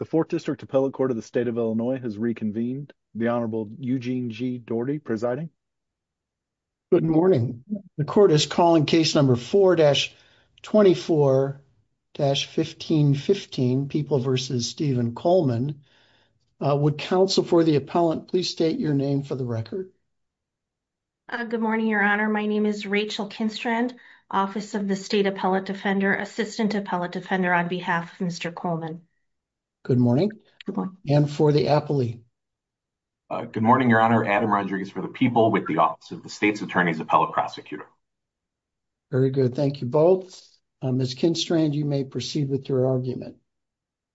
The 4th District Appellate Court of the State of Illinois has reconvened. The Honorable Eugene G. Doherty presiding. Good morning. The court is calling case number 4-24-1515, People v. Stephen Coleman. Would counsel for the appellant please state your name for the record? Good morning, Your Honor. My name is Rachel Kinstrand, Office of the State Appellate Defender, Assistant Appellate Defender on behalf of Mr. Coleman. Good morning. And for the appellee? Good morning, Your Honor. Adam Rodriguez for the People with the Office of the State's Attorney's Appellate Prosecutor. Very good. Thank you both. Ms. Kinstrand, you may proceed with your argument.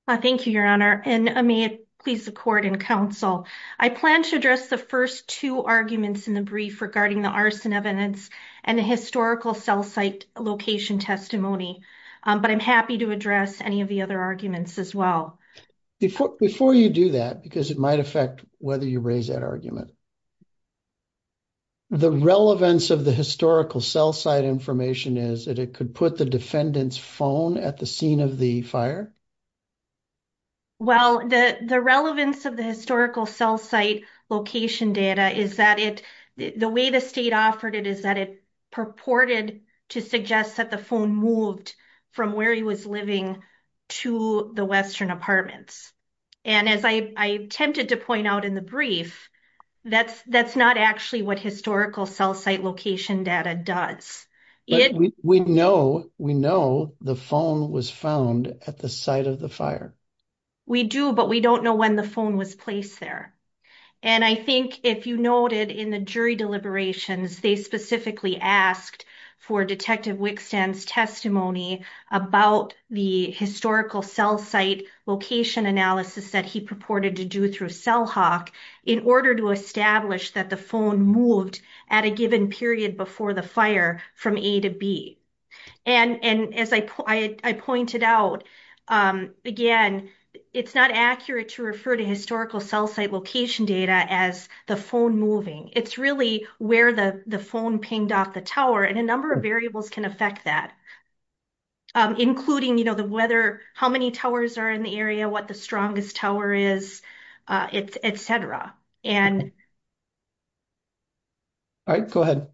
Thank you, Your Honor. And may it please the court and counsel, I plan to address the first two arguments in the brief regarding the arson evidence and the historical cell site location testimony. But I'm happy to address any of the other arguments as well. Before you do that, because it might affect whether you raise that argument. The relevance of the historical cell site information is that it could put the defendant's phone at the scene of the fire? Well, the relevance of the historical cell site location data is that the way the state offered it is that it purported to suggest that the phone moved from where he was living to the western apartments. And as I attempted to point out in the brief, that's not actually what historical cell site location data does. We know the phone was found at the site of the fire. We do, but we don't know when the phone was placed there. And I think if you noted in the jury deliberations, they specifically asked for Detective Wickstan's testimony about the historical cell site location analysis that he purported to do through Cell Hawk in order to establish that the phone moved at a given period before the fire from A to B. And as I pointed out, again, it's not accurate to refer to historical cell site location data as the phone moving. It's really where the phone pinged off the tower. And a number of variables can affect that, including, you know, the weather, how many towers are in the area, what the strongest tower is, etc. All right, go ahead.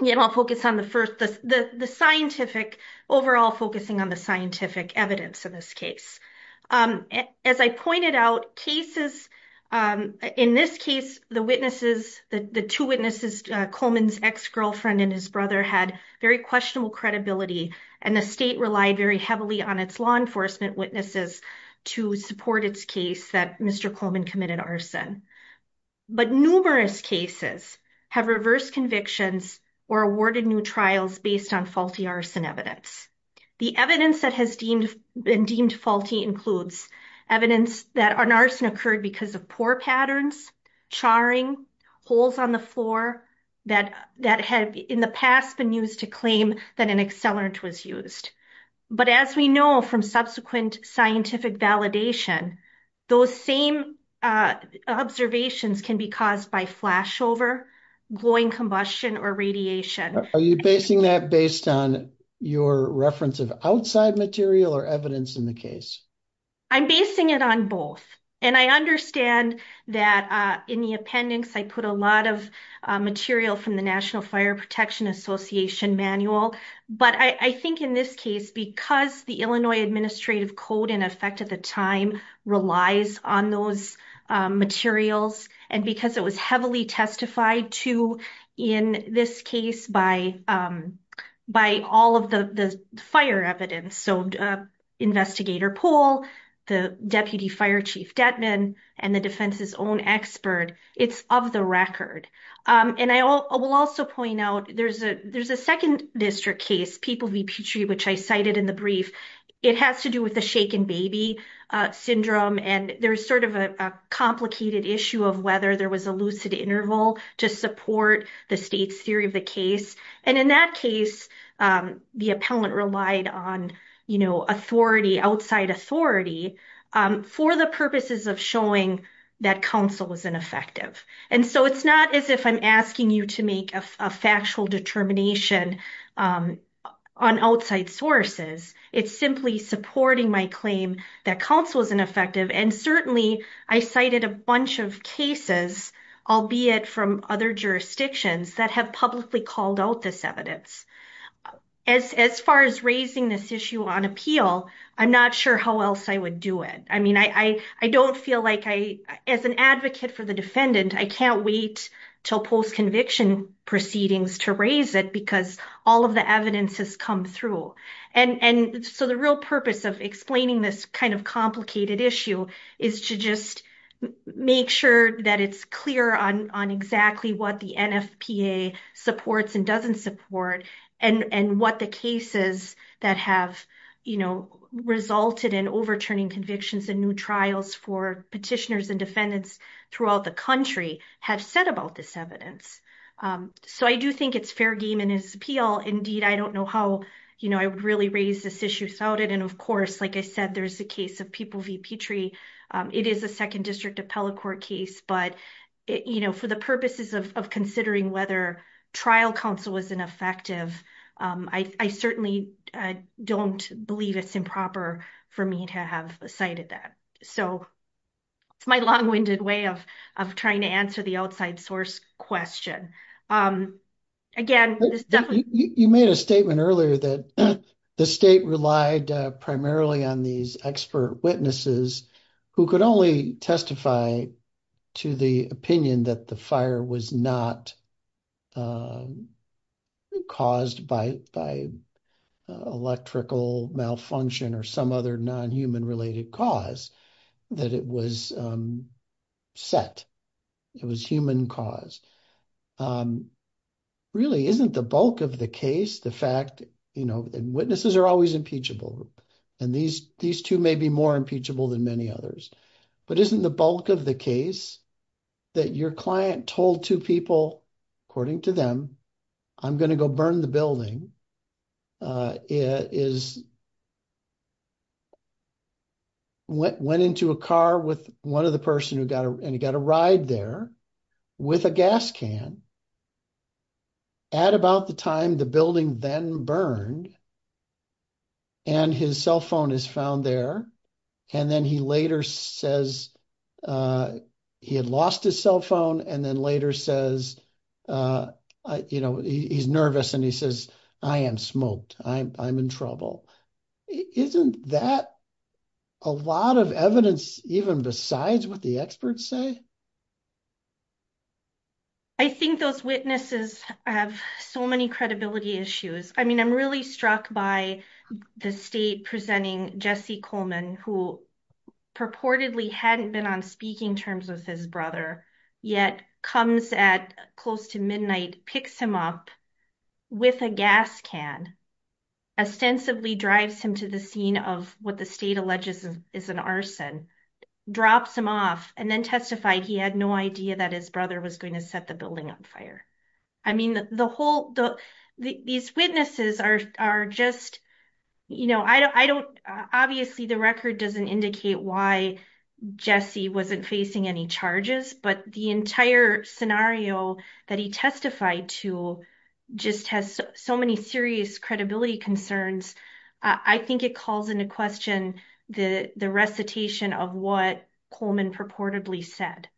And I'll focus on the first, the scientific, overall focusing on the scientific evidence in this case. As I pointed out, cases, in this case, the witnesses, the two witnesses, Coleman's ex-girlfriend and his brother had very questionable credibility. And the state relied very heavily on its law enforcement witnesses to support its case that Mr. Coleman committed arson. But numerous cases have reversed convictions or awarded new trials based on faulty arson evidence. The evidence that has been deemed faulty includes evidence that an arson occurred because of poor patterns, charring, holes on the floor that had in the past been used to claim that an accelerant was used. But as we know from subsequent scientific validation, those same observations can be caused by flashover, glowing combustion or radiation. Are you basing that based on your reference of outside material or evidence in the case? I'm basing it on both. And I understand that in the appendix, I put a lot of material from the National Fire Protection Association manual. But I think in this case, because the Illinois Administrative Code, in effect at the time, relies on those materials and because it was heavily testified to in this case by all of the fire evidence. So Investigator Poole, the Deputy Fire Chief Detman and the defense's own expert, it's of the record. And I will also point out there's a second district case, People v. Petrie, which I cited in the brief. It has to do with the shaken baby syndrome. And there's sort of a complicated issue of whether there was a lucid interval to support the state's theory of the case. And in that case, the appellant relied on authority, outside authority, for the purposes of showing that counsel was ineffective. And so it's not as if I'm asking you to make a factual determination on outside sources. It's simply supporting my claim that counsel was ineffective. And certainly, I cited a bunch of cases, albeit from other jurisdictions, that have publicly called out this evidence. As far as raising this issue on appeal, I'm not sure how else I would do it. I don't feel like I, as an advocate for the defendant, I can't wait till post-conviction proceedings to raise it because all of the evidence has come through. And so the real purpose of explaining this kind of complicated issue is to just make sure that it's clear on exactly what the NFPA supports and doesn't support and what the cases that have resulted in overturning convictions in new trials for petitioners and defendants throughout the country have said about this evidence. So I do think it's fair game in its appeal. Indeed, I don't know how I would really raise this issue without it. And of course, like I said, there's a case of People v. Petrie. It is a 2nd District Appellate Court case. But for the purposes of considering whether trial counsel was ineffective, I certainly don't believe it's improper for me to have cited that. So it's my long-winded way of trying to answer the outside source question. You made a statement earlier that the state relied primarily on these expert witnesses who could only testify to the opinion that the fire was not caused by electrical malfunction or some other non-human related cause, that it was set. It was human caused. Really, isn't the bulk of the case the fact that witnesses are always impeachable? And these two may be more impeachable than many others. But isn't the bulk of the case that your client told two people, according to them, I'm going to go burn the building, went into a car with one of the person and he got a ride there with a gas can. At about the time the building then burned and his cell phone is found there and then he later says he had lost his cell phone and then later says, you know, he's nervous and he says, I am smoked. I'm in trouble. Isn't that a lot of evidence even besides what the experts say? I think those witnesses have so many credibility issues. I mean, I'm really struck by the state presenting Jesse Coleman, who purportedly hadn't been on speaking terms with his brother, yet comes at close to midnight, picks him up with a gas can, ostensibly drives him to the scene of what the state alleges is an arson. Drops him off and then testified he had no idea that his brother was going to set the building on fire. I mean, the whole, these witnesses are just, you know, I don't, obviously the record doesn't indicate why Jesse wasn't facing any charges, but the entire scenario that he testified to just has so many serious credibility concerns. I think it calls into question the recitation of what Coleman purportedly said.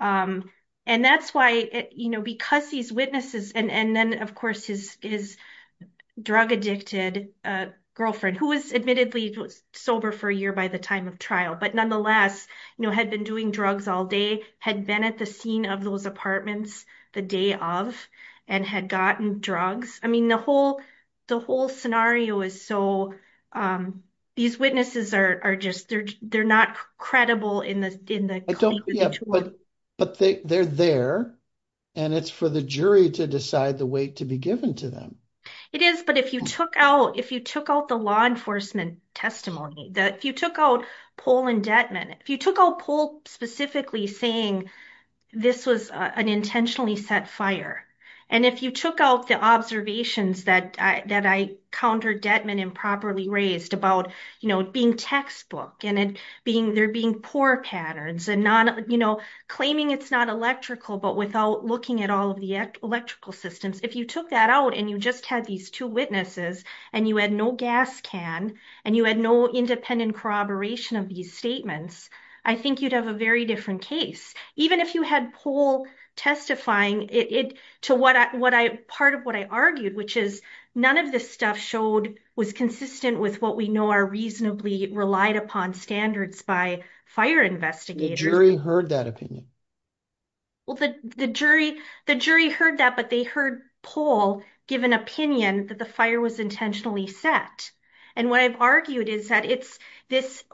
And that's why, you know, because these witnesses and then, of course, his drug addicted girlfriend, who was admittedly sober for a year by the time of trial, but nonetheless, you know, had been doing drugs all day, had been at the scene of those apartments the day of and had gotten drugs. I mean, the whole, the whole scenario is so, these witnesses are just, they're not credible in the claim. But they're there, and it's for the jury to decide the weight to be given to them. It is, but if you took out, if you took out the law enforcement testimony, if you took out poll indictment, if you took out poll specifically saying this was an intentionally set fire. And if you took out the observations that I, that I counter Detman improperly raised about, you know, being textbook and being, there being poor patterns and not, you know, claiming it's not electrical, but without looking at all of the electrical systems. If you took that out, and you just had these two witnesses, and you had no gas can, and you had no independent corroboration of these statements, I think you'd have a very different case. Even if you had poll testifying it to what I, what I, part of what I argued, which is none of this stuff showed was consistent with what we know are reasonably relied upon standards by fire investigators. The jury heard that opinion. Well, the jury, the jury heard that, but they heard poll give an opinion that the fire was intentionally set. And what I've argued is that it's this,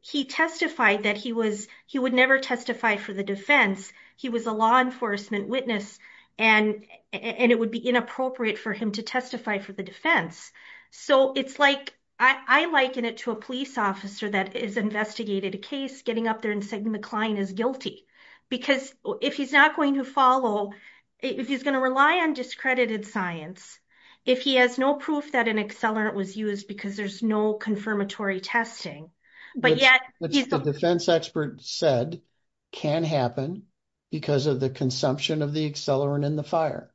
he testified that he was, he would never testify for the defense. He was a law enforcement witness, and it would be inappropriate for him to testify for the defense. So, it's like, I liken it to a police officer that is investigated a case, getting up there and saying the client is guilty. Because if he's not going to follow, if he's going to rely on discredited science, if he has no proof that an accelerant was used because there's no confirmatory testing. What the defense expert said can happen because of the consumption of the accelerant in the fire.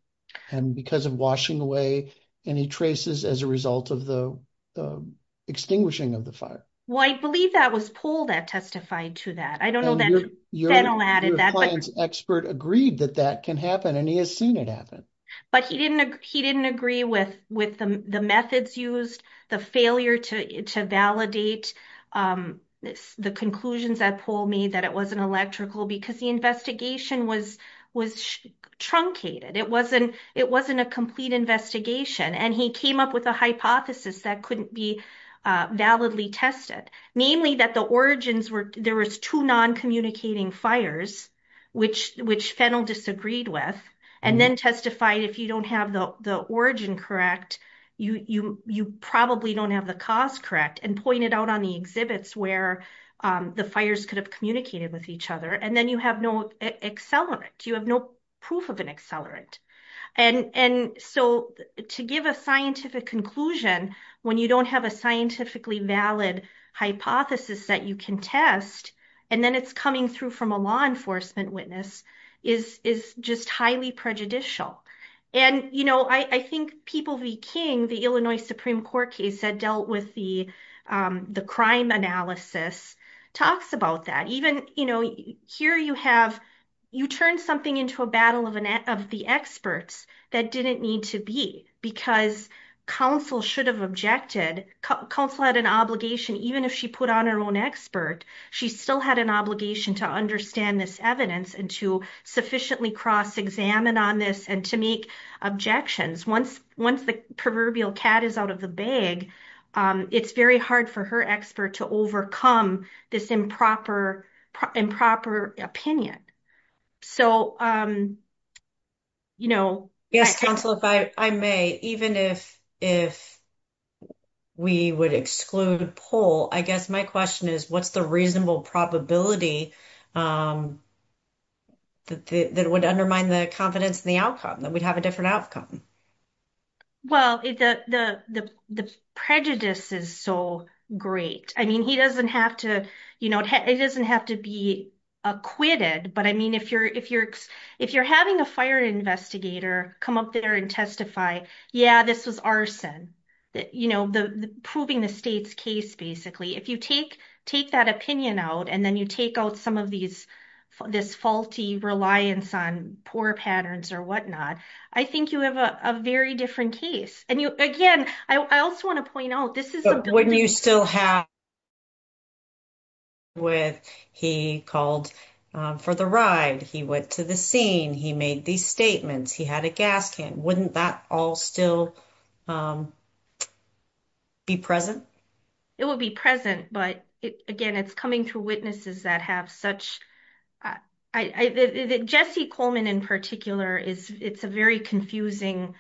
And because of washing away any traces as a result of the extinguishing of the fire. Well, I believe that was poll that testified to that. I don't know that Fennel added that. Your client's expert agreed that that can happen, and he has seen it happen. But he didn't agree with the methods used, the failure to validate the conclusions that poll made that it wasn't electrical because the investigation was truncated. It wasn't a complete investigation, and he came up with a hypothesis that couldn't be validly tested. Namely, that the origins were, there was two non-communicating fires, which Fennel disagreed with. And then testified if you don't have the origin correct, you probably don't have the cause correct. And pointed out on the exhibits where the fires could have communicated with each other. And then you have no accelerant. You have no proof of an accelerant. And so to give a scientific conclusion when you don't have a scientifically valid hypothesis that you can test. And then it's coming through from a law enforcement witness is just highly prejudicial. And, you know, I think People v. King, the Illinois Supreme Court case that dealt with the crime analysis talks about that. Here you have, you turn something into a battle of the experts that didn't need to be because counsel should have objected. Counsel had an obligation, even if she put on her own expert. She still had an obligation to understand this evidence and to sufficiently cross examine on this and to make objections. Once once the proverbial cat is out of the bag, it's very hard for her expert to overcome this improper, improper opinion. So, you know, yes, counsel, if I may, even if if we would exclude poll, I guess my question is, what's the reasonable probability? That would undermine the confidence in the outcome that we'd have a different outcome. Well, the prejudice is so great. I mean, he doesn't have to, you know, it doesn't have to be acquitted. But I mean, if you're if you're if you're having a fire investigator come up there and testify, yeah, this was arson. You know, the proving the state's case, basically, if you take take that opinion out, and then you take out some of these, this faulty reliance on poor patterns or whatnot. I think you have a very different case. And you again, I also want to point out this is when you still have. With he called for the ride, he went to the scene, he made these statements, he had a gas can, wouldn't that all still be present? It will be present. But again, it's coming through witnesses that have such I Jesse Coleman in particular is it's a very confusing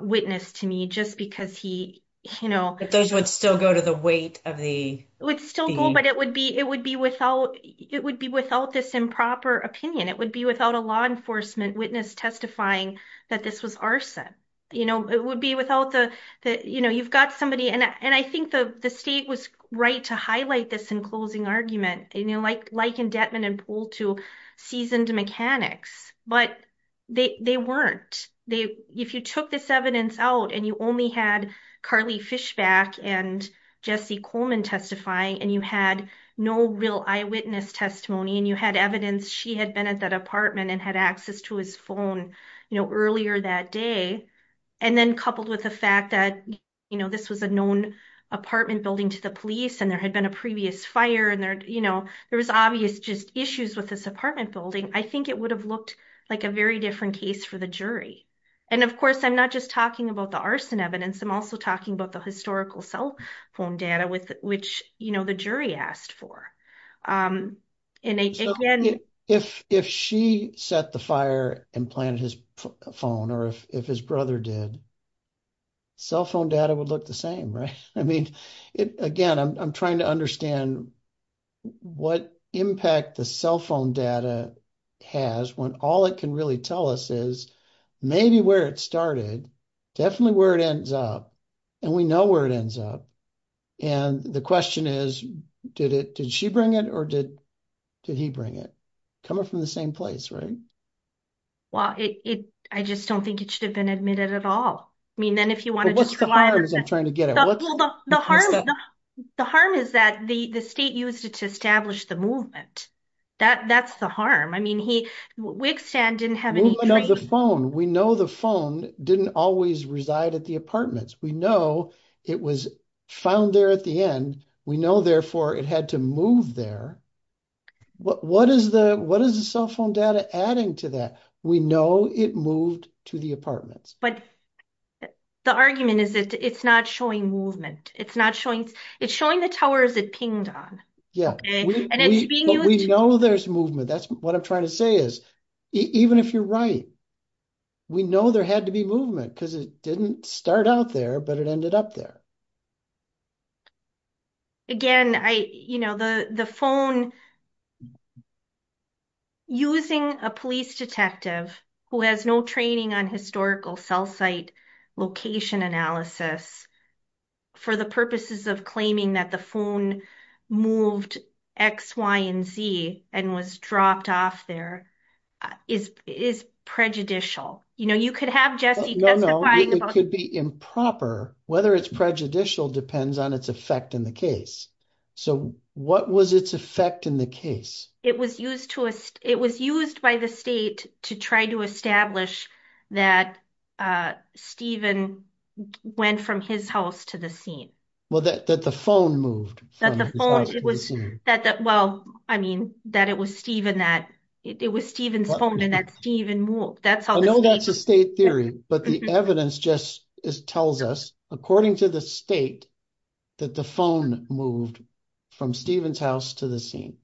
witness to me just because he, you know, those would still go to the weight of the would still go but it would be it would be without it would be without this improper opinion, it would be without a law enforcement witness testifying that this was arson. You know, it would be without the, you know, you've got somebody and I think the state was right to highlight this in closing argument, you know, like, like in Detman and pull to seasoned mechanics, but they weren't, they, if you took this evidence out, and you only had Carly Fishback and Jesse Coleman testifying and you had no real eyewitness testimony and you had evidence she had been at that apartment and had access to his phone, you know, earlier that day. And then coupled with the fact that, you know, this was a known apartment building to the police and there had been a previous fire and there, you know, there was obvious just issues with this apartment building, I think it would have looked like a very different case for the jury. And of course I'm not just talking about the arson evidence I'm also talking about the historical cell phone data with which you know the jury asked for. If she set the fire and planted his phone or if his brother did, cell phone data would look the same, right? I mean, again, I'm trying to understand what impact the cell phone data has when all it can really tell us is maybe where it started, definitely where it ends up and we know where it ends up. And the question is, did it, did she bring it or did he bring it? Coming from the same place, right? Well, I just don't think it should have been admitted at all. I mean, then if you want to just rely on it. What's the harm? The harm is that the state used it to establish the movement. That's the harm. I mean, he, Wigstand didn't have any... We know the cell phone. We know the phone didn't always reside at the apartments. We know it was found there at the end. We know therefore it had to move there. What is the, what is the cell phone data adding to that? We know it moved to the apartments. But the argument is that it's not showing movement. It's not showing, it's showing the towers it pinged on. We know there's movement. That's what I'm trying to say is, even if you're right, we know there had to be movement because it didn't start out there, but it ended up there. Again, I, you know, the phone, using a police detective who has no training on historical cell site location analysis for the purposes of claiming that the phone moved X, Y, and Z and was dropped off there is prejudicial. You know, you could have Jesse... No, no, it could be improper. Whether it's prejudicial depends on its effect in the case. So what was its effect in the case? It was used to, it was used by the state to try to establish that Stephen went from his house to the scene. Well, that the phone moved. Well, I mean, that it was Stephen that, it was Stephen's phone and that Stephen moved. I know that's a state theory, but the evidence just tells us, according to the state, that the phone moved from Stephen's house to the scene.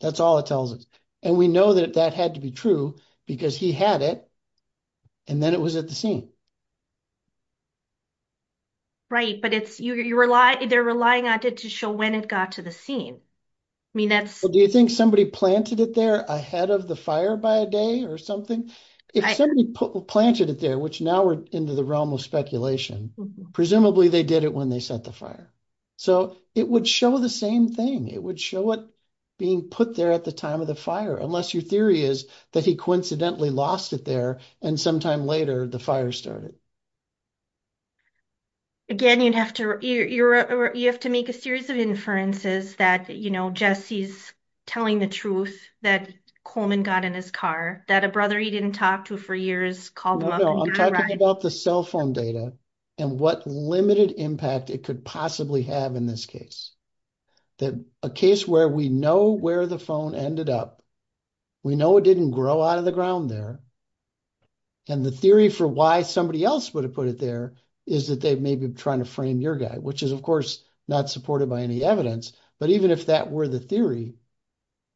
That's all it tells us. And we know that that had to be true because he had it, and then it was at the scene. Right, but it's, you rely, they're relying on it to show when it got to the scene. I mean, that's... Do you think somebody planted it there ahead of the fire by a day or something? If somebody planted it there, which now we're into the realm of speculation, presumably they did it when they set the fire. So it would show the same thing. It would show it being put there at the time of the fire, unless your theory is that he coincidentally lost it there and sometime later the fire started. Again, you'd have to, you have to make a series of inferences that, you know, Jesse's telling the truth that Coleman got in his car, that a brother he didn't talk to for years called him up... Talking about the cell phone data and what limited impact it could possibly have in this case. That a case where we know where the phone ended up, we know it didn't grow out of the ground there. And the theory for why somebody else would have put it there is that they may be trying to frame your guy, which is, of course, not supported by any evidence. But even if that were the theory,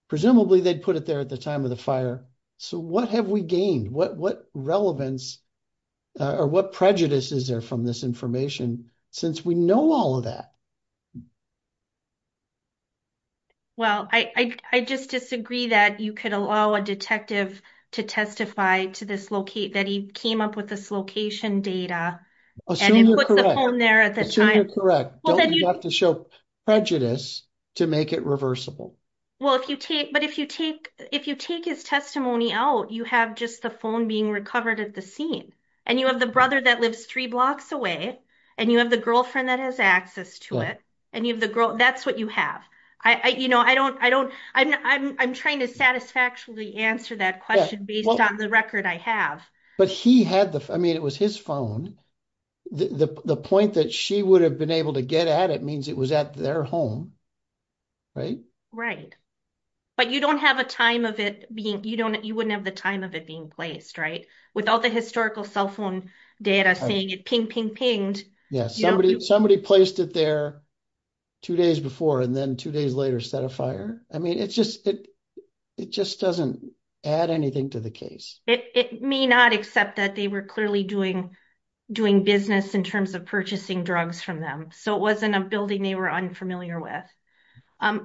presumably they'd put it there at the time of the fire. So what have we gained? What relevance or what prejudice is there from this information since we know all of that? Well, I just disagree that you could allow a detective to testify to this locate that he came up with this location data. Assume you're correct. Don't you have to show prejudice to make it reversible? Well, if you take, but if you take, if you take his testimony out, you have just the phone being recovered at the scene. And you have the brother that lives three blocks away and you have the girlfriend that has access to it. And you have the girl, that's what you have. I, you know, I don't, I don't, I'm trying to satisfactorily answer that question based on the record I have. But he had the, I mean, it was his phone. The point that she would have been able to get at it means it was at their home. Right? Right. But you don't have a time of it being, you don't, you wouldn't have the time of it being placed right? With all the historical cell phone data saying it ping, ping, pinged. Yeah, somebody, somebody placed it there two days before and then two days later set a fire. I mean, it's just, it just doesn't add anything to the case. It may not accept that they were clearly doing, doing business in terms of purchasing drugs from them. So it wasn't a building they were unfamiliar with.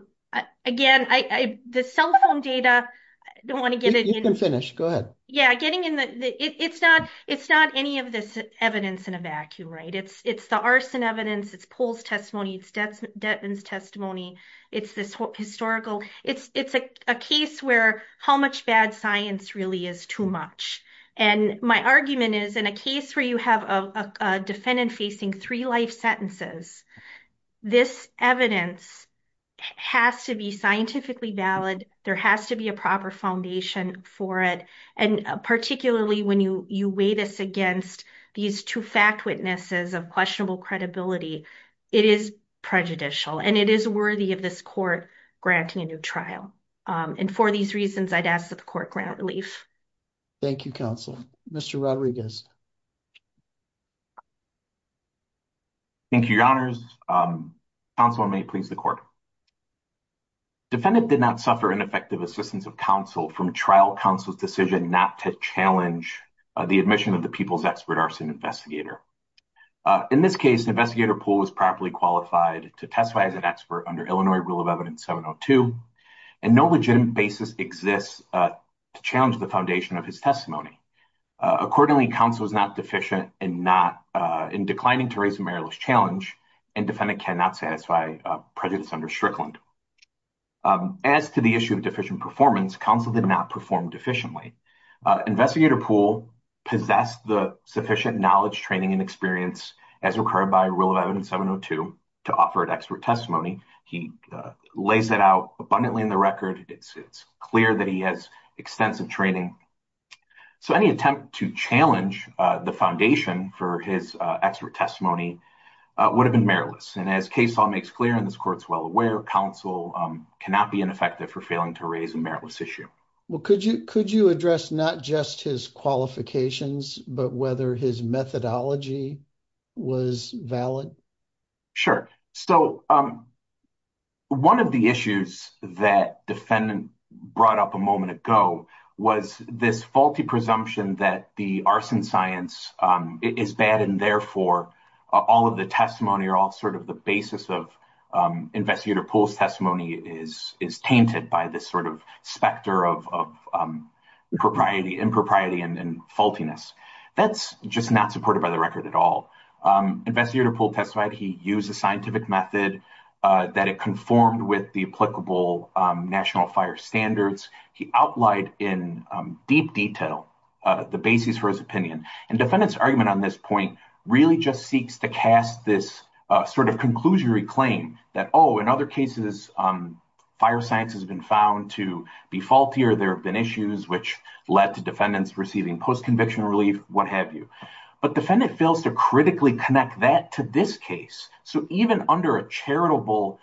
Again, I, the cell phone data, I don't want to get it in. You can finish, go ahead. Yeah, getting in the, it's not, it's not any of this evidence in a vacuum, right? It's, it's the arson evidence, it's Pohl's testimony, it's Detman's testimony. It's this historical, it's, it's a case where how much bad science really is too much. And my argument is in a case where you have a defendant facing three life sentences, this evidence has to be scientifically valid. There has to be a proper foundation for it. And particularly when you weigh this against these two fact witnesses of questionable credibility, it is prejudicial and it is worthy of this court granting a new trial. And for these reasons, I'd ask that the court grant relief. Thank you, Counselor. Mr. Rodriguez. Thank you, Your Honors. Counselor, may it please the court. Defendant did not suffer ineffective assistance of counsel from trial counsel's decision not to challenge the admission of the People's Expert Arson Investigator. In this case, the investigator, Pohl, was properly qualified to testify as an expert under Illinois Rule of Evidence 702. And no legitimate basis exists to challenge the foundation of his testimony. Accordingly, counsel was not deficient and not in declining to raise a meritless challenge and defendant cannot satisfy prejudice under Strickland. As to the issue of deficient performance, counsel did not perform deficiently. Investigator Pohl possessed the sufficient knowledge, training and experience as required by Rule of Evidence 702 to offer an expert testimony. He lays it out abundantly in the record. It's clear that he has extensive training. So any attempt to challenge the foundation for his expert testimony would have been meritless. And as case law makes clear, and this court's well aware, counsel cannot be ineffective for failing to raise a meritless issue. Well, could you could you address not just his qualifications, but whether his methodology was valid? Sure. So one of the issues that defendant brought up a moment ago was this faulty presumption that the arson science is bad. And therefore, all of the testimony or all sort of the basis of investigator Pohl's testimony is is tainted by this sort of specter of propriety, impropriety and faultiness. That's just not supported by the record at all. Investigator Pohl testified he used a scientific method that it conformed with the applicable national fire standards. He outlined in deep detail the basis for his opinion. And defendant's argument on this point really just seeks to cast this sort of conclusory claim that, oh, in other cases, fire science has been found to be faultier. There have been issues which led to defendants receiving post-conviction relief, what have you. But defendant fails to critically connect that to this case. So even under a charitable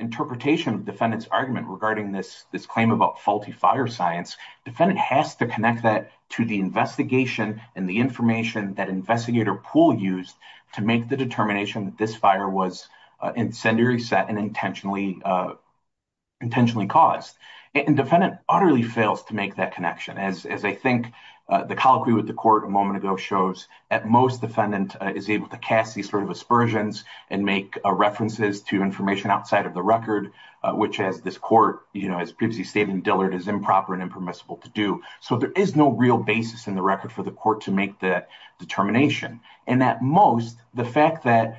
interpretation, defendant's argument regarding this this claim about faulty fire science, defendant has to connect that to the investigation and the information that investigator Pohl used to make the determination that this fire was incendiary set and intentionally intentionally caused. And defendant utterly fails to make that connection, as I think the colloquy with the court a moment ago shows. At most, defendant is able to cast these sort of aspersions and make references to information outside of the record, which, as this court, you know, as previously stated in Dillard, is improper and impermissible to do. So there is no real basis in the record for the court to make that determination. And at most, the fact that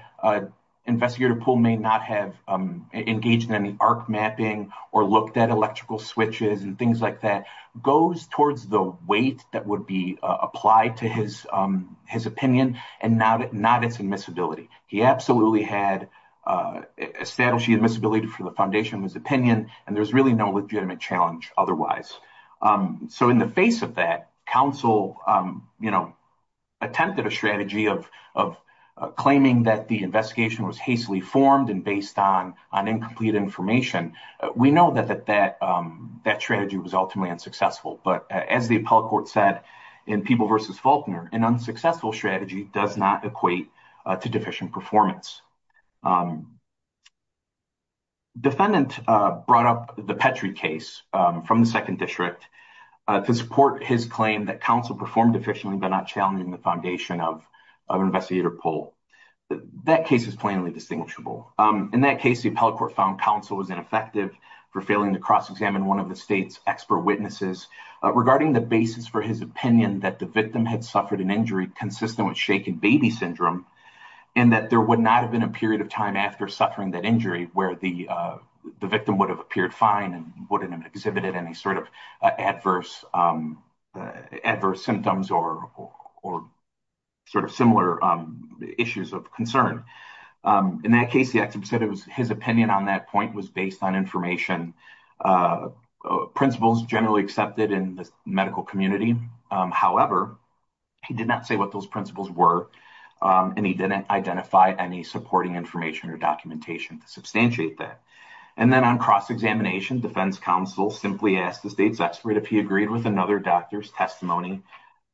investigator Pohl may not have engaged in any arc mapping or looked at electrical switches and things like that goes towards the weight that would be applied to his opinion and not its admissibility. He absolutely had established admissibility for the foundation of his opinion, and there's really no legitimate challenge otherwise. So in the face of that, counsel, you know, attempted a strategy of claiming that the investigation was hastily formed and based on incomplete information. We know that that strategy was ultimately unsuccessful, but as the appellate court said in Peeble v. Faulkner, an unsuccessful strategy does not equate to deficient performance. Defendant brought up the Petrie case from the 2nd District to support his claim that counsel performed efficiently but not challenging the foundation of investigator Pohl. That case is plainly distinguishable. In that case, the appellate court found counsel was ineffective for failing to cross-examine one of the state's expert witnesses regarding the basis for his opinion that the victim had suffered an injury consistent with shaken baby syndrome and that there would not have been a period of time after suffering that injury where the victim would have appeared fine and wouldn't have exhibited any sort of adverse symptoms or sort of similar issues of concern. In that case, the expert said his opinion on that point was based on information, principles generally accepted in the medical community. However, he did not say what those principles were, and he didn't identify any supporting information or documentation to substantiate that. And then on cross-examination, defense counsel simply asked the state's expert if he agreed with another doctor's testimony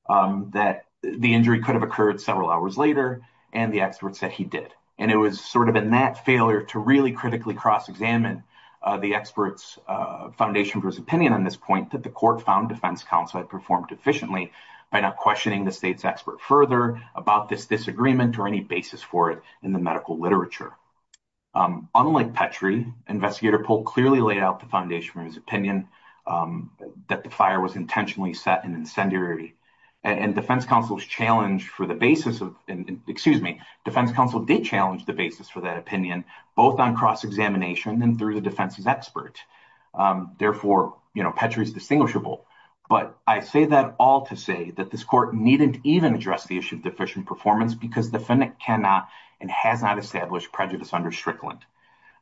that the injury could have occurred several hours later, and the expert said he did. And it was sort of in that failure to really critically cross-examine the expert's foundation for his opinion on this point that the court found defense counsel had performed efficiently by not questioning the state's expert further about this disagreement or any basis for it in the medical literature. Unlike Petrie, Investigator Polk clearly laid out the foundation for his opinion that the fire was intentionally set in incendiary. And defense counsel challenged for the basis of, excuse me, defense counsel did challenge the basis for that opinion, both on cross-examination and through the defense's expert. Therefore, you know, Petrie's distinguishable. But I say that all to say that this court needn't even address the issue of deficient performance because defendant cannot and has not established prejudice under Strickland.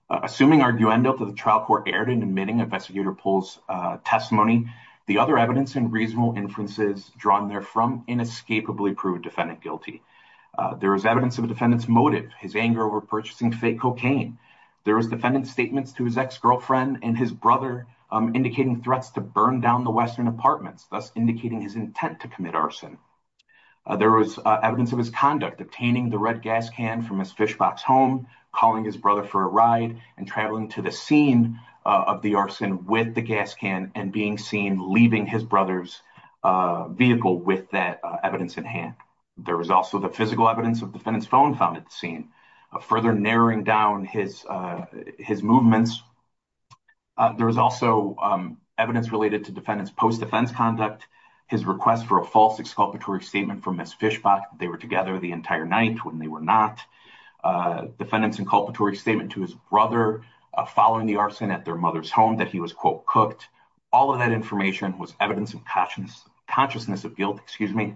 Assuming arguendo that the trial court erred in admitting Investigator Polk's testimony, the other evidence and reasonable inferences drawn therefrom inescapably prove defendant guilty. There is evidence of a defendant's motive, his anger over purchasing fake cocaine. There was defendant's statements to his ex-girlfriend and his brother indicating threats to burn down the Western apartments, thus indicating his intent to commit arson. There was evidence of his conduct, obtaining the red gas can from his fish box home, calling his brother for a ride, and traveling to the scene of the arson with the gas can and being seen leaving his brother's vehicle with that evidence in hand. There was also the physical evidence of defendant's phone found at the scene, further narrowing down his movements. There was also evidence related to defendant's post-defense conduct, his request for a false exculpatory statement from his fish box. They were together the entire night when they were not. Defendant's inculpatory statement to his brother following the arson at their mother's home that he was, quote, cooked. All of that information was evidence of consciousness of guilt, excuse me.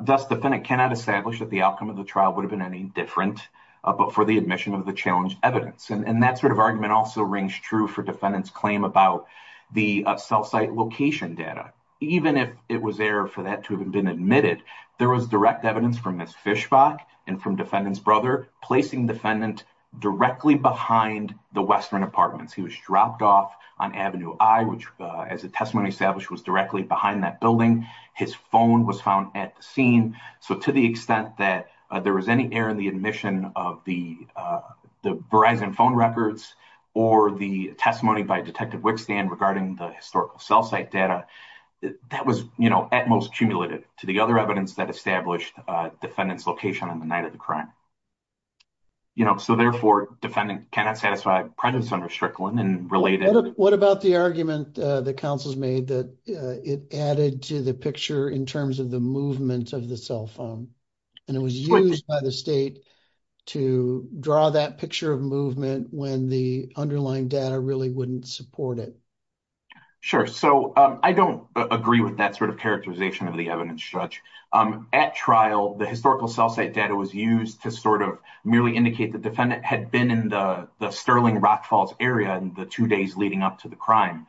Thus, defendant cannot establish that the outcome of the trial would have been any different but for the admission of the challenged evidence. And that sort of argument also rings true for defendant's claim about the self-site location data. Even if it was there for that to have been admitted, there was direct evidence from his fish box and from defendant's brother placing defendant directly behind the Western apartments. He was dropped off on Avenue I, which, as the testimony established, was directly behind that building. His phone was found at the scene. So to the extent that there was any error in the admission of the Verizon phone records or the testimony by Detective Wickstand regarding the historical cell site data, that was, you know, at most cumulative to the other evidence that established defendant's location on the night of the crime. You know, so therefore defendant cannot satisfy prejudice under Strickland and related. What about the argument that counsels made that it added to the picture in terms of the movement of the cell phone? And it was used by the state to draw that picture of movement when the underlying data really wouldn't support it. Sure. So I don't agree with that sort of characterization of the evidence judge. At trial, the historical cell site data was used to sort of merely indicate the defendant had been in the Sterling Rock Falls area in the two days leading up to the crime.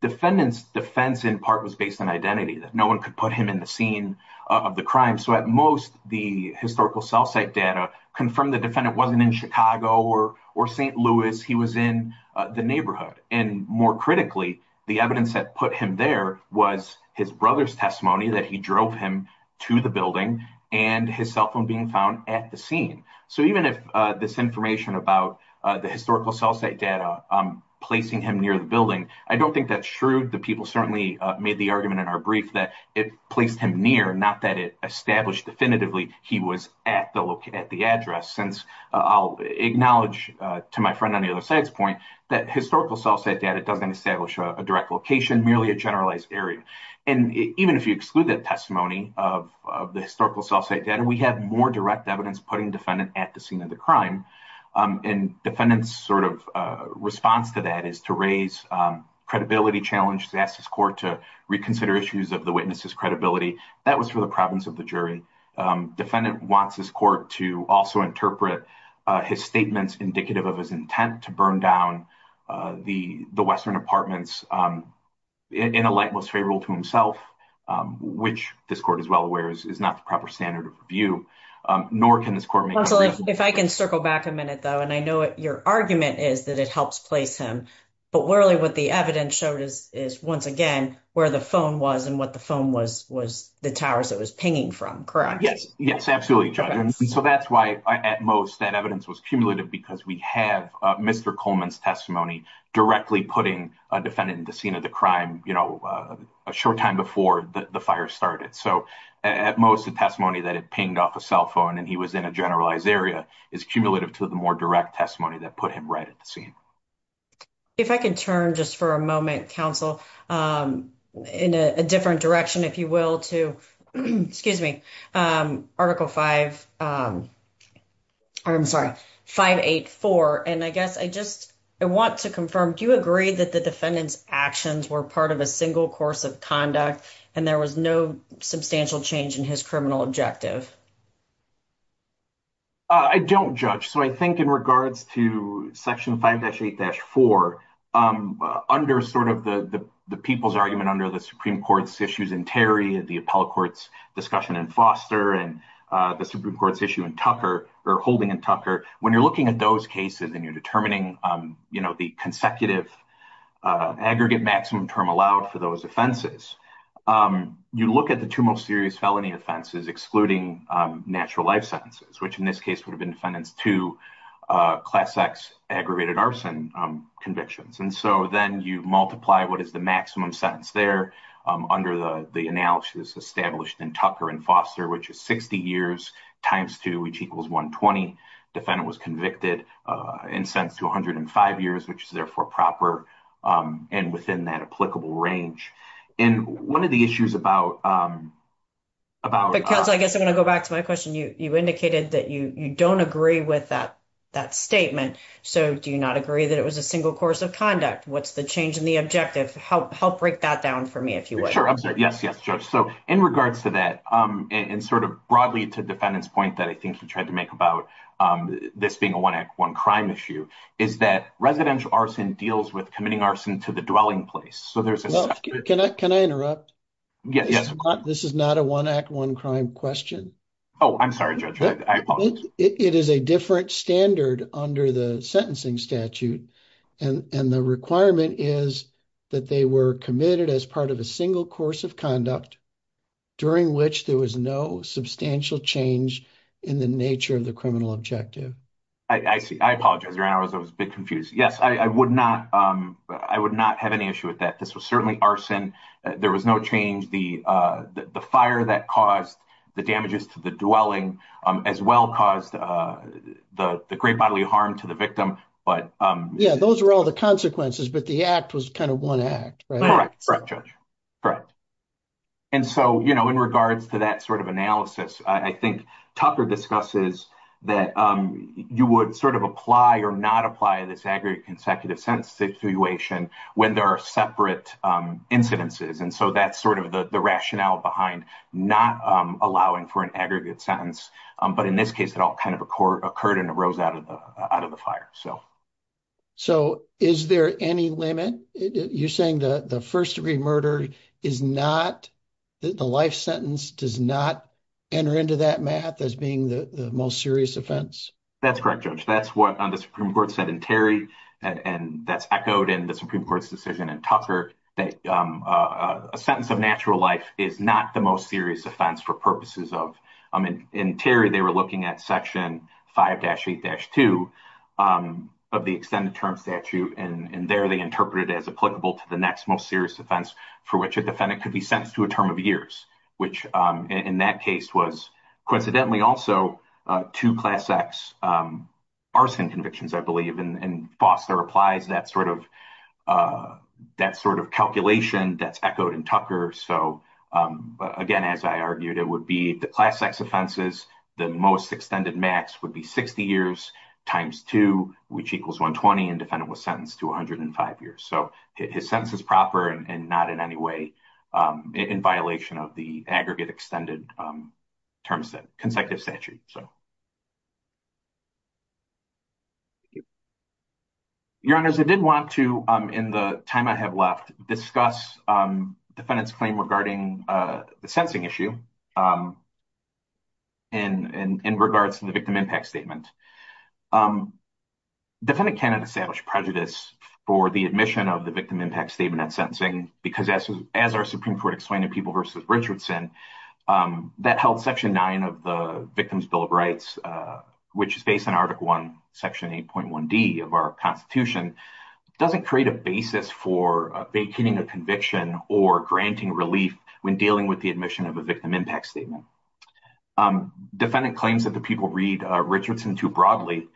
Defendant's defense in part was based on identity, that no one could put him in the scene of the crime. So at most, the historical cell site data confirmed the defendant wasn't in Chicago or St. Louis. He was in the neighborhood. And more critically, the evidence that put him there was his brother's testimony that he drove him to the building and his cell phone being found at the scene. So even if this information about the historical cell site data placing him near the building, I don't think that's true. The people certainly made the argument in our brief that it placed him near, not that it established definitively he was at the address. Since I'll acknowledge to my friend on the other side's point that historical cell site data doesn't establish a direct location, merely a generalized area. And even if you exclude that testimony of the historical cell site data, we have more direct evidence putting defendant at the scene of the crime. And defendant's sort of response to that is to raise credibility challenge, to ask his court to reconsider issues of the witness's credibility. That was for the province of the jury. Defendant wants his court to also interpret his statements indicative of his intent to burn down the western apartments in a light most favorable to himself, which this court is well aware is not the proper standard of review. If I can circle back a minute, though, and I know your argument is that it helps place him. But really, what the evidence showed is, is once again, where the phone was and what the phone was, was the towers that was pinging from. Correct? Yes, yes, absolutely. So that's why at most that evidence was cumulative, because we have Mr. Coleman's testimony directly putting a defendant in the scene of the crime a short time before the fire started. So, at most, the testimony that it pinged off a cell phone, and he was in a generalized area is cumulative to the more direct testimony that put him right at the scene. If I can turn just for a moment council in a different direction, if you will, to excuse me, article 5. I'm sorry, 584 and I guess I just I want to confirm. Do you agree that the defendants actions were part of a single course of conduct and there was no substantial change in his criminal objective? I don't judge, so I think in regards to section 5-8-4 under sort of the people's argument under the Supreme Court's issues in Terry and the appellate courts discussion in Foster and the Supreme Court's issue in Tucker or holding in Tucker. When you're looking at those cases and you're determining, you know, the consecutive aggregate maximum term allowed for those offenses, you look at the two most serious felony offenses excluding natural life sentences, which in this case would have been defendants to Class X aggravated arson convictions. And so then you multiply what is the maximum sentence there under the analysis established in Tucker and Foster, which is 60 years times 2, which equals 120. Defendant was convicted in sense to 105 years, which is therefore proper and within that applicable range. And one of the issues about. Because I guess I'm going to go back to my question. You indicated that you don't agree with that statement. So do you not agree that it was a single course of conduct? What's the change in the objective? Help break that down for me if you would. So, in regards to that, and sort of broadly to defendants point that I think he tried to make about this being a 1 act 1 crime issue is that residential arson deals with committing arson to the dwelling place. So, there's a, can I interrupt? Yes, this is not a 1 act 1 crime question. Oh, I'm sorry. It is a different standard under the sentencing statute and the requirement is that they were committed as part of a single course of conduct. During which there was no substantial change in the nature of the criminal objective. I see, I apologize. I was a bit confused. Yes, I would not. I would not have any issue with that. This was certainly arson. There was no change the, the fire that caused the damages to the dwelling as well caused the great bodily harm to the victim. But, yeah, those are all the consequences, but the act was kind of 1 act. Correct. Correct. And so, you know, in regards to that sort of analysis, I think Tucker discusses that you would sort of apply or not apply this aggregate consecutive sentence situation when there are separate incidences. And so that's sort of the rationale behind not allowing for an aggregate sentence. But in this case, it all kind of occurred and arose out of the out of the fire. So. So, is there any limit you're saying the, the 1st, degree murder is not. The life sentence does not enter into that math as being the most serious offense. That's correct. Judge. That's what the Supreme Court said in Terry. And that's echoed in the Supreme Court's decision and Tucker, a sentence of natural life is not the most serious offense for purposes of. I mean, in Terry, they were looking at section 5 dash 8 dash 2 of the extended term statute. And there they interpreted as applicable to the next most serious offense for which a defendant could be sentenced to a term of years, which in that case was coincidentally also to class X. Arson convictions, I believe, and Foster applies that sort of that sort of calculation that's echoed in Tucker. So, again, as I argued, it would be the class X offenses. The most extended max would be 60 years times 2, which equals 120 and defendant was sentenced to 105 years. So his sense is proper and not in any way in violation of the aggregate extended terms that consecutive statute. So. Your honors, I didn't want to in the time I have left discuss defendants claim regarding the sensing issue. And in regards to the victim impact statement. Defendant cannot establish prejudice for the admission of the victim impact statement and sentencing, because as our Supreme Court explained to people versus Richardson, that held section 9 of the Victims Bill of Rights, which is based on Article 1, section 8.1 D of our Constitution. It doesn't create a basis for a conviction or granting relief when dealing with the admission of a victim impact statement. Defendant claims that the people read Richardson too broadly.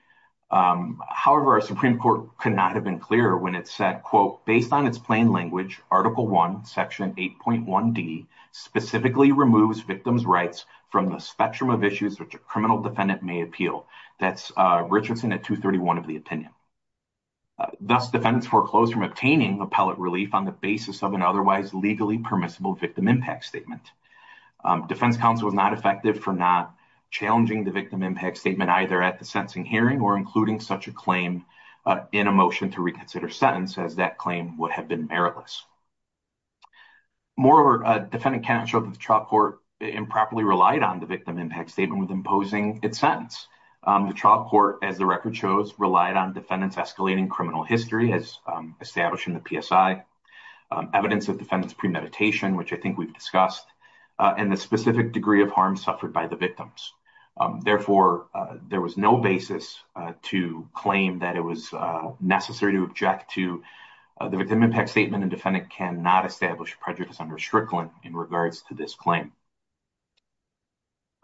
However, our Supreme Court could not have been clearer when it said, quote, based on its plain language, Article 1, section 8.1 D specifically removes victims rights from the spectrum of issues, which a criminal defendant may appeal. That's Richardson at 231 of the opinion. Thus, defendants foreclosed from obtaining appellate relief on the basis of an otherwise legally permissible victim impact statement. Defense counsel was not effective for not challenging the victim impact statement, either at the sentencing hearing or including such a claim in a motion to reconsider sentence as that claim would have been meritless. Moreover, defendant counsel at the trial court improperly relied on the victim impact statement with imposing its sentence. The trial court, as the record shows, relied on defendants escalating criminal history as established in the PSI, evidence of defendants premeditation, which I think we've discussed, and the specific degree of harm suffered by the victims. Therefore, there was no basis to claim that it was necessary to object to the victim impact statement, and defendant cannot establish prejudice under Strickland in regards to this claim.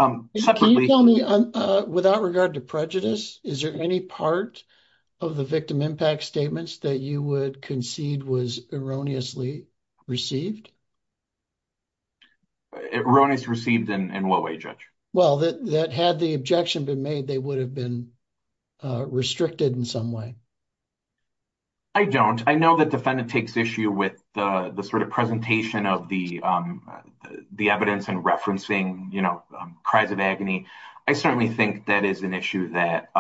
Can you tell me, without regard to prejudice, is there any part of the victim impact statements that you would concede was erroneously received? Erroneously received in what way, Judge? Well, that had the objection been made, they would have been restricted in some way. I don't. I know that defendant takes issue with the sort of presentation of the evidence and referencing, you know, cries of agony. I certainly think that is an issue that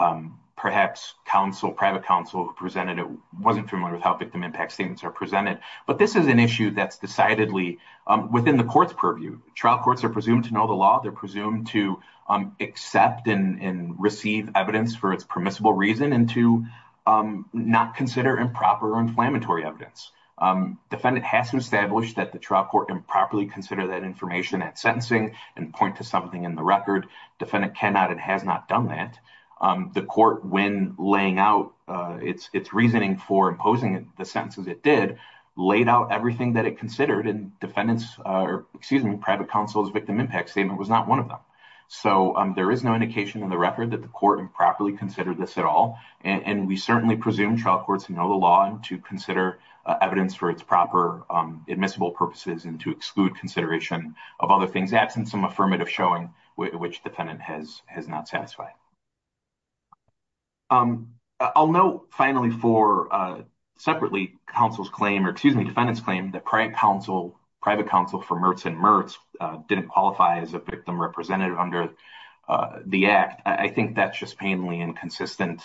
perhaps counsel, private counsel who presented it wasn't familiar with how victim impact statements are presented. But this is an issue that's decidedly within the court's purview. Trial courts are presumed to know the law. They're presumed to accept and receive evidence for its permissible reason and to not consider improper inflammatory evidence. Defendant has to establish that the trial court can properly consider that information at sentencing and point to something in the record. Defendant cannot and has not done that. The court, when laying out its reasoning for imposing the sentences it did, laid out everything that it considered, and defendant's, or excuse me, private counsel's victim impact statement was not one of them. So there is no indication in the record that the court improperly considered this at all. And we certainly presume trial courts know the law and to consider evidence for its proper admissible purposes and to exclude consideration of other things absent some affirmative showing which defendant has not satisfied. I'll note finally for separately counsel's claim, or excuse me, defendant's claim that private counsel for Mertz and Mertz didn't qualify as a victim representative under the act. I think that's just painfully inconsistent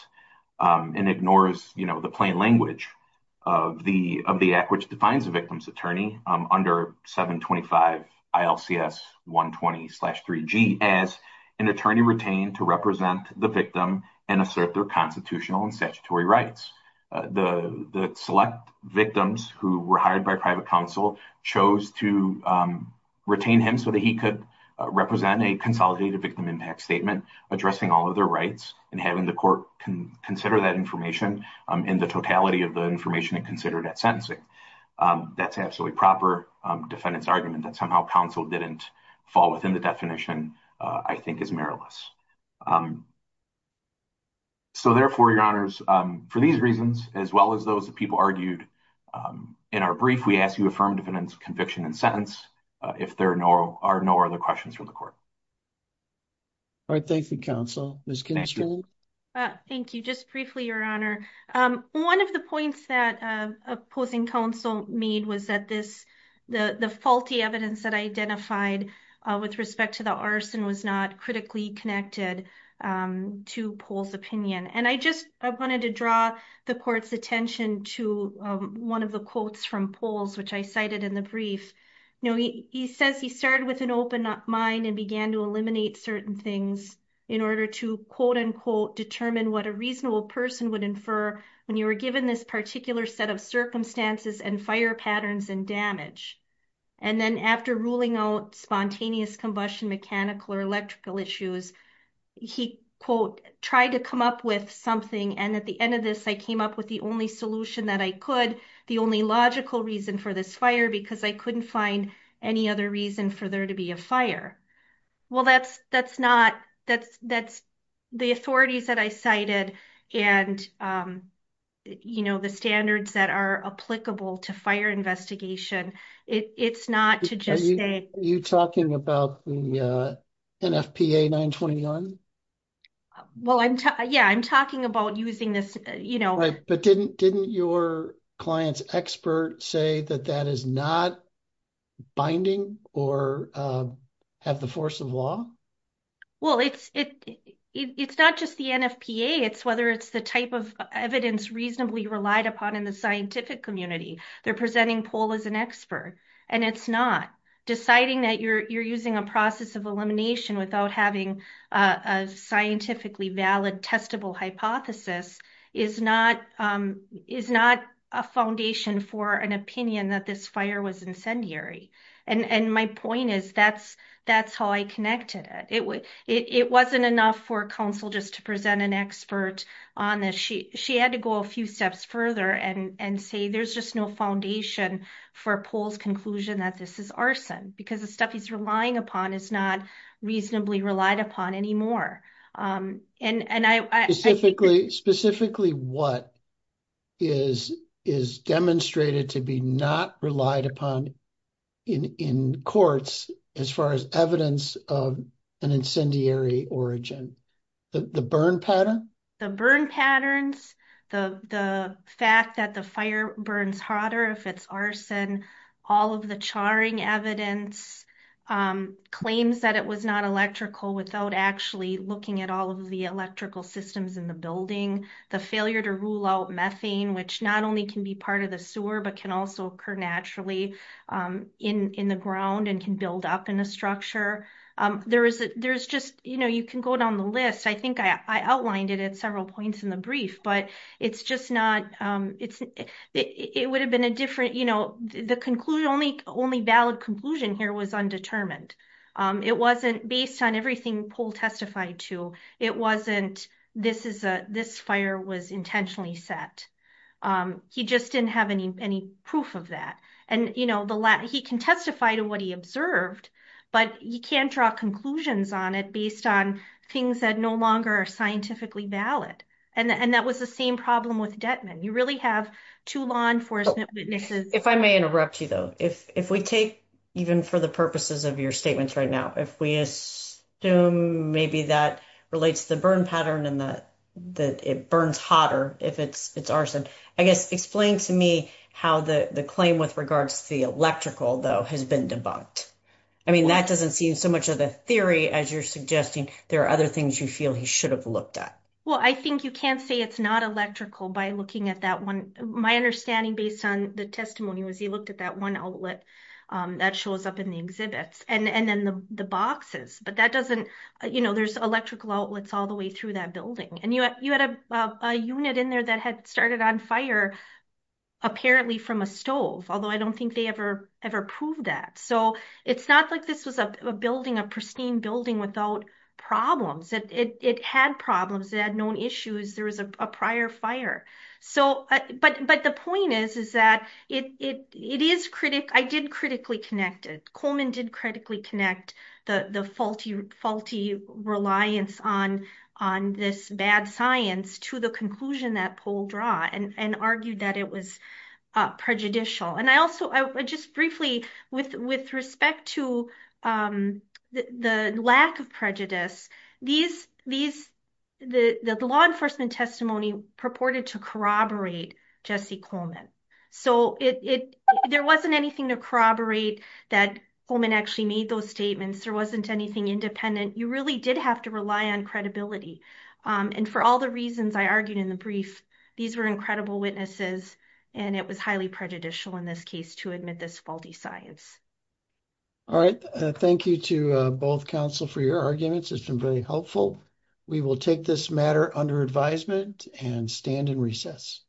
and ignores, you know, the plain language of the act which defines a victim's attorney under 725 ILCS 120-3G as an attorney retained to represent the victim and assert their constitutional and statutory rights. The select victims who were hired by private counsel chose to retain him so that he could represent a consolidated victim impact statement addressing all of their rights and having the court consider that information in the totality of the information it considered at sentencing. That's absolutely proper defendant's argument that somehow counsel didn't fall within the definition, I think is meriless. So, therefore, your honors, for these reasons, as well as those that people argued in our brief, we ask you affirm defendants conviction and sentence if there are no other questions from the court. All right, thank you, counsel. Ms. Kinastro. Thank you, just briefly, your honor. One of the points that opposing counsel made was that this, the faulty evidence that I identified with respect to the arson was not critically connected to Paul's opinion and I just wanted to draw the court's attention to one of the quotes from Paul's which I cited in the brief. He says he started with an open mind and began to eliminate certain things in order to quote unquote determine what a reasonable person would infer when you were given this particular set of circumstances and fire patterns and damage. And then after ruling out spontaneous combustion mechanical or electrical issues, he quote, tried to come up with something and at the end of this I came up with the only solution that I could, the only logical reason for this fire because I couldn't find any other reason for there to be a fire. Well, that's, that's not, that's, that's the authorities that I cited. And, you know, the standards that are applicable to fire investigation. It's not to just say. Are you talking about the NFPA 921? Well, I'm, yeah, I'm talking about using this, you know. Right, but didn't didn't your clients expert say that that is not binding or have the force of law. Well, it's, it's not just the NFPA it's whether it's the type of evidence reasonably relied upon in the scientific community, they're presenting poll as an expert, and it's not deciding that you're using a process of elimination without having a scientifically valid testable hypothesis is not is not a foundation for an opinion that this fire was incendiary. And my point is, that's, that's how I connected it. It wasn't enough for counsel just to present an expert on this. She, she had to go a few steps further and and say, there's just no foundation for polls conclusion that this is arson because the stuff he's relying upon is not reasonably relied upon anymore. Specifically, specifically, what is is demonstrated to be not relied upon in courts as far as evidence of an incendiary origin, the burn pattern, the burn patterns, the, the fact that the fire burns hotter if it's arson, all of the charring evidence claims that it was not electrical without actually looking at all of the electrical systems in the building, the failure to rule out methane, which not only can be part of the sewer, but can also occur naturally in the ground and can build up in the structure. There is, there's just, you know, you can go down the list. I think I outlined it at several points in the brief, but it's just not, it's, it would have been a different, you know, the conclusion only only valid conclusion here was undetermined. It wasn't based on everything poll testified to. It wasn't, this is a, this fire was intentionally set. He just didn't have any, any proof of that. And, you know, the last he can testify to what he observed, but you can't draw conclusions on it based on things that no longer are scientifically valid. And that was the same problem with Detman. You really have to law enforcement witnesses. If I may interrupt you, though, if we take even for the purposes of your statements right now, if we assume, maybe that relates the burn pattern and that it burns hotter if it's arson, I guess, explain to me how the claim with regards to the electrical though has been debunked. I mean, that doesn't seem so much of the theory as you're suggesting there are other things you feel he should have looked at. Well, I think you can't say it's not electrical by looking at that one. My understanding based on the testimony was he looked at that one outlet that shows up in the exhibits and then the boxes, but that doesn't, you know, there's electrical outlets all the way through that building. And you had a unit in there that had started on fire, apparently from a stove, although I don't think they ever, ever proved that. So it's not like this was a building, a pristine building without problems. It had problems. It had known issues. There was a prior fire. So, but the point is, is that it is critic, I did critically connect it. Coleman did critically connect the faulty reliance on this bad science to the conclusion that poll draw and argued that it was prejudicial. And I also just briefly with respect to the lack of prejudice, these, the law enforcement testimony purported to corroborate Jesse Coleman. So it, there wasn't anything to corroborate that Coleman actually made those statements. There wasn't anything independent. You really did have to rely on credibility. And for all the reasons I argued in the brief, these were incredible witnesses and it was highly prejudicial in this case to admit this faulty science. All right, thank you to both counsel for your arguments. It's been very helpful. We will take this matter under advisement and stand in recess.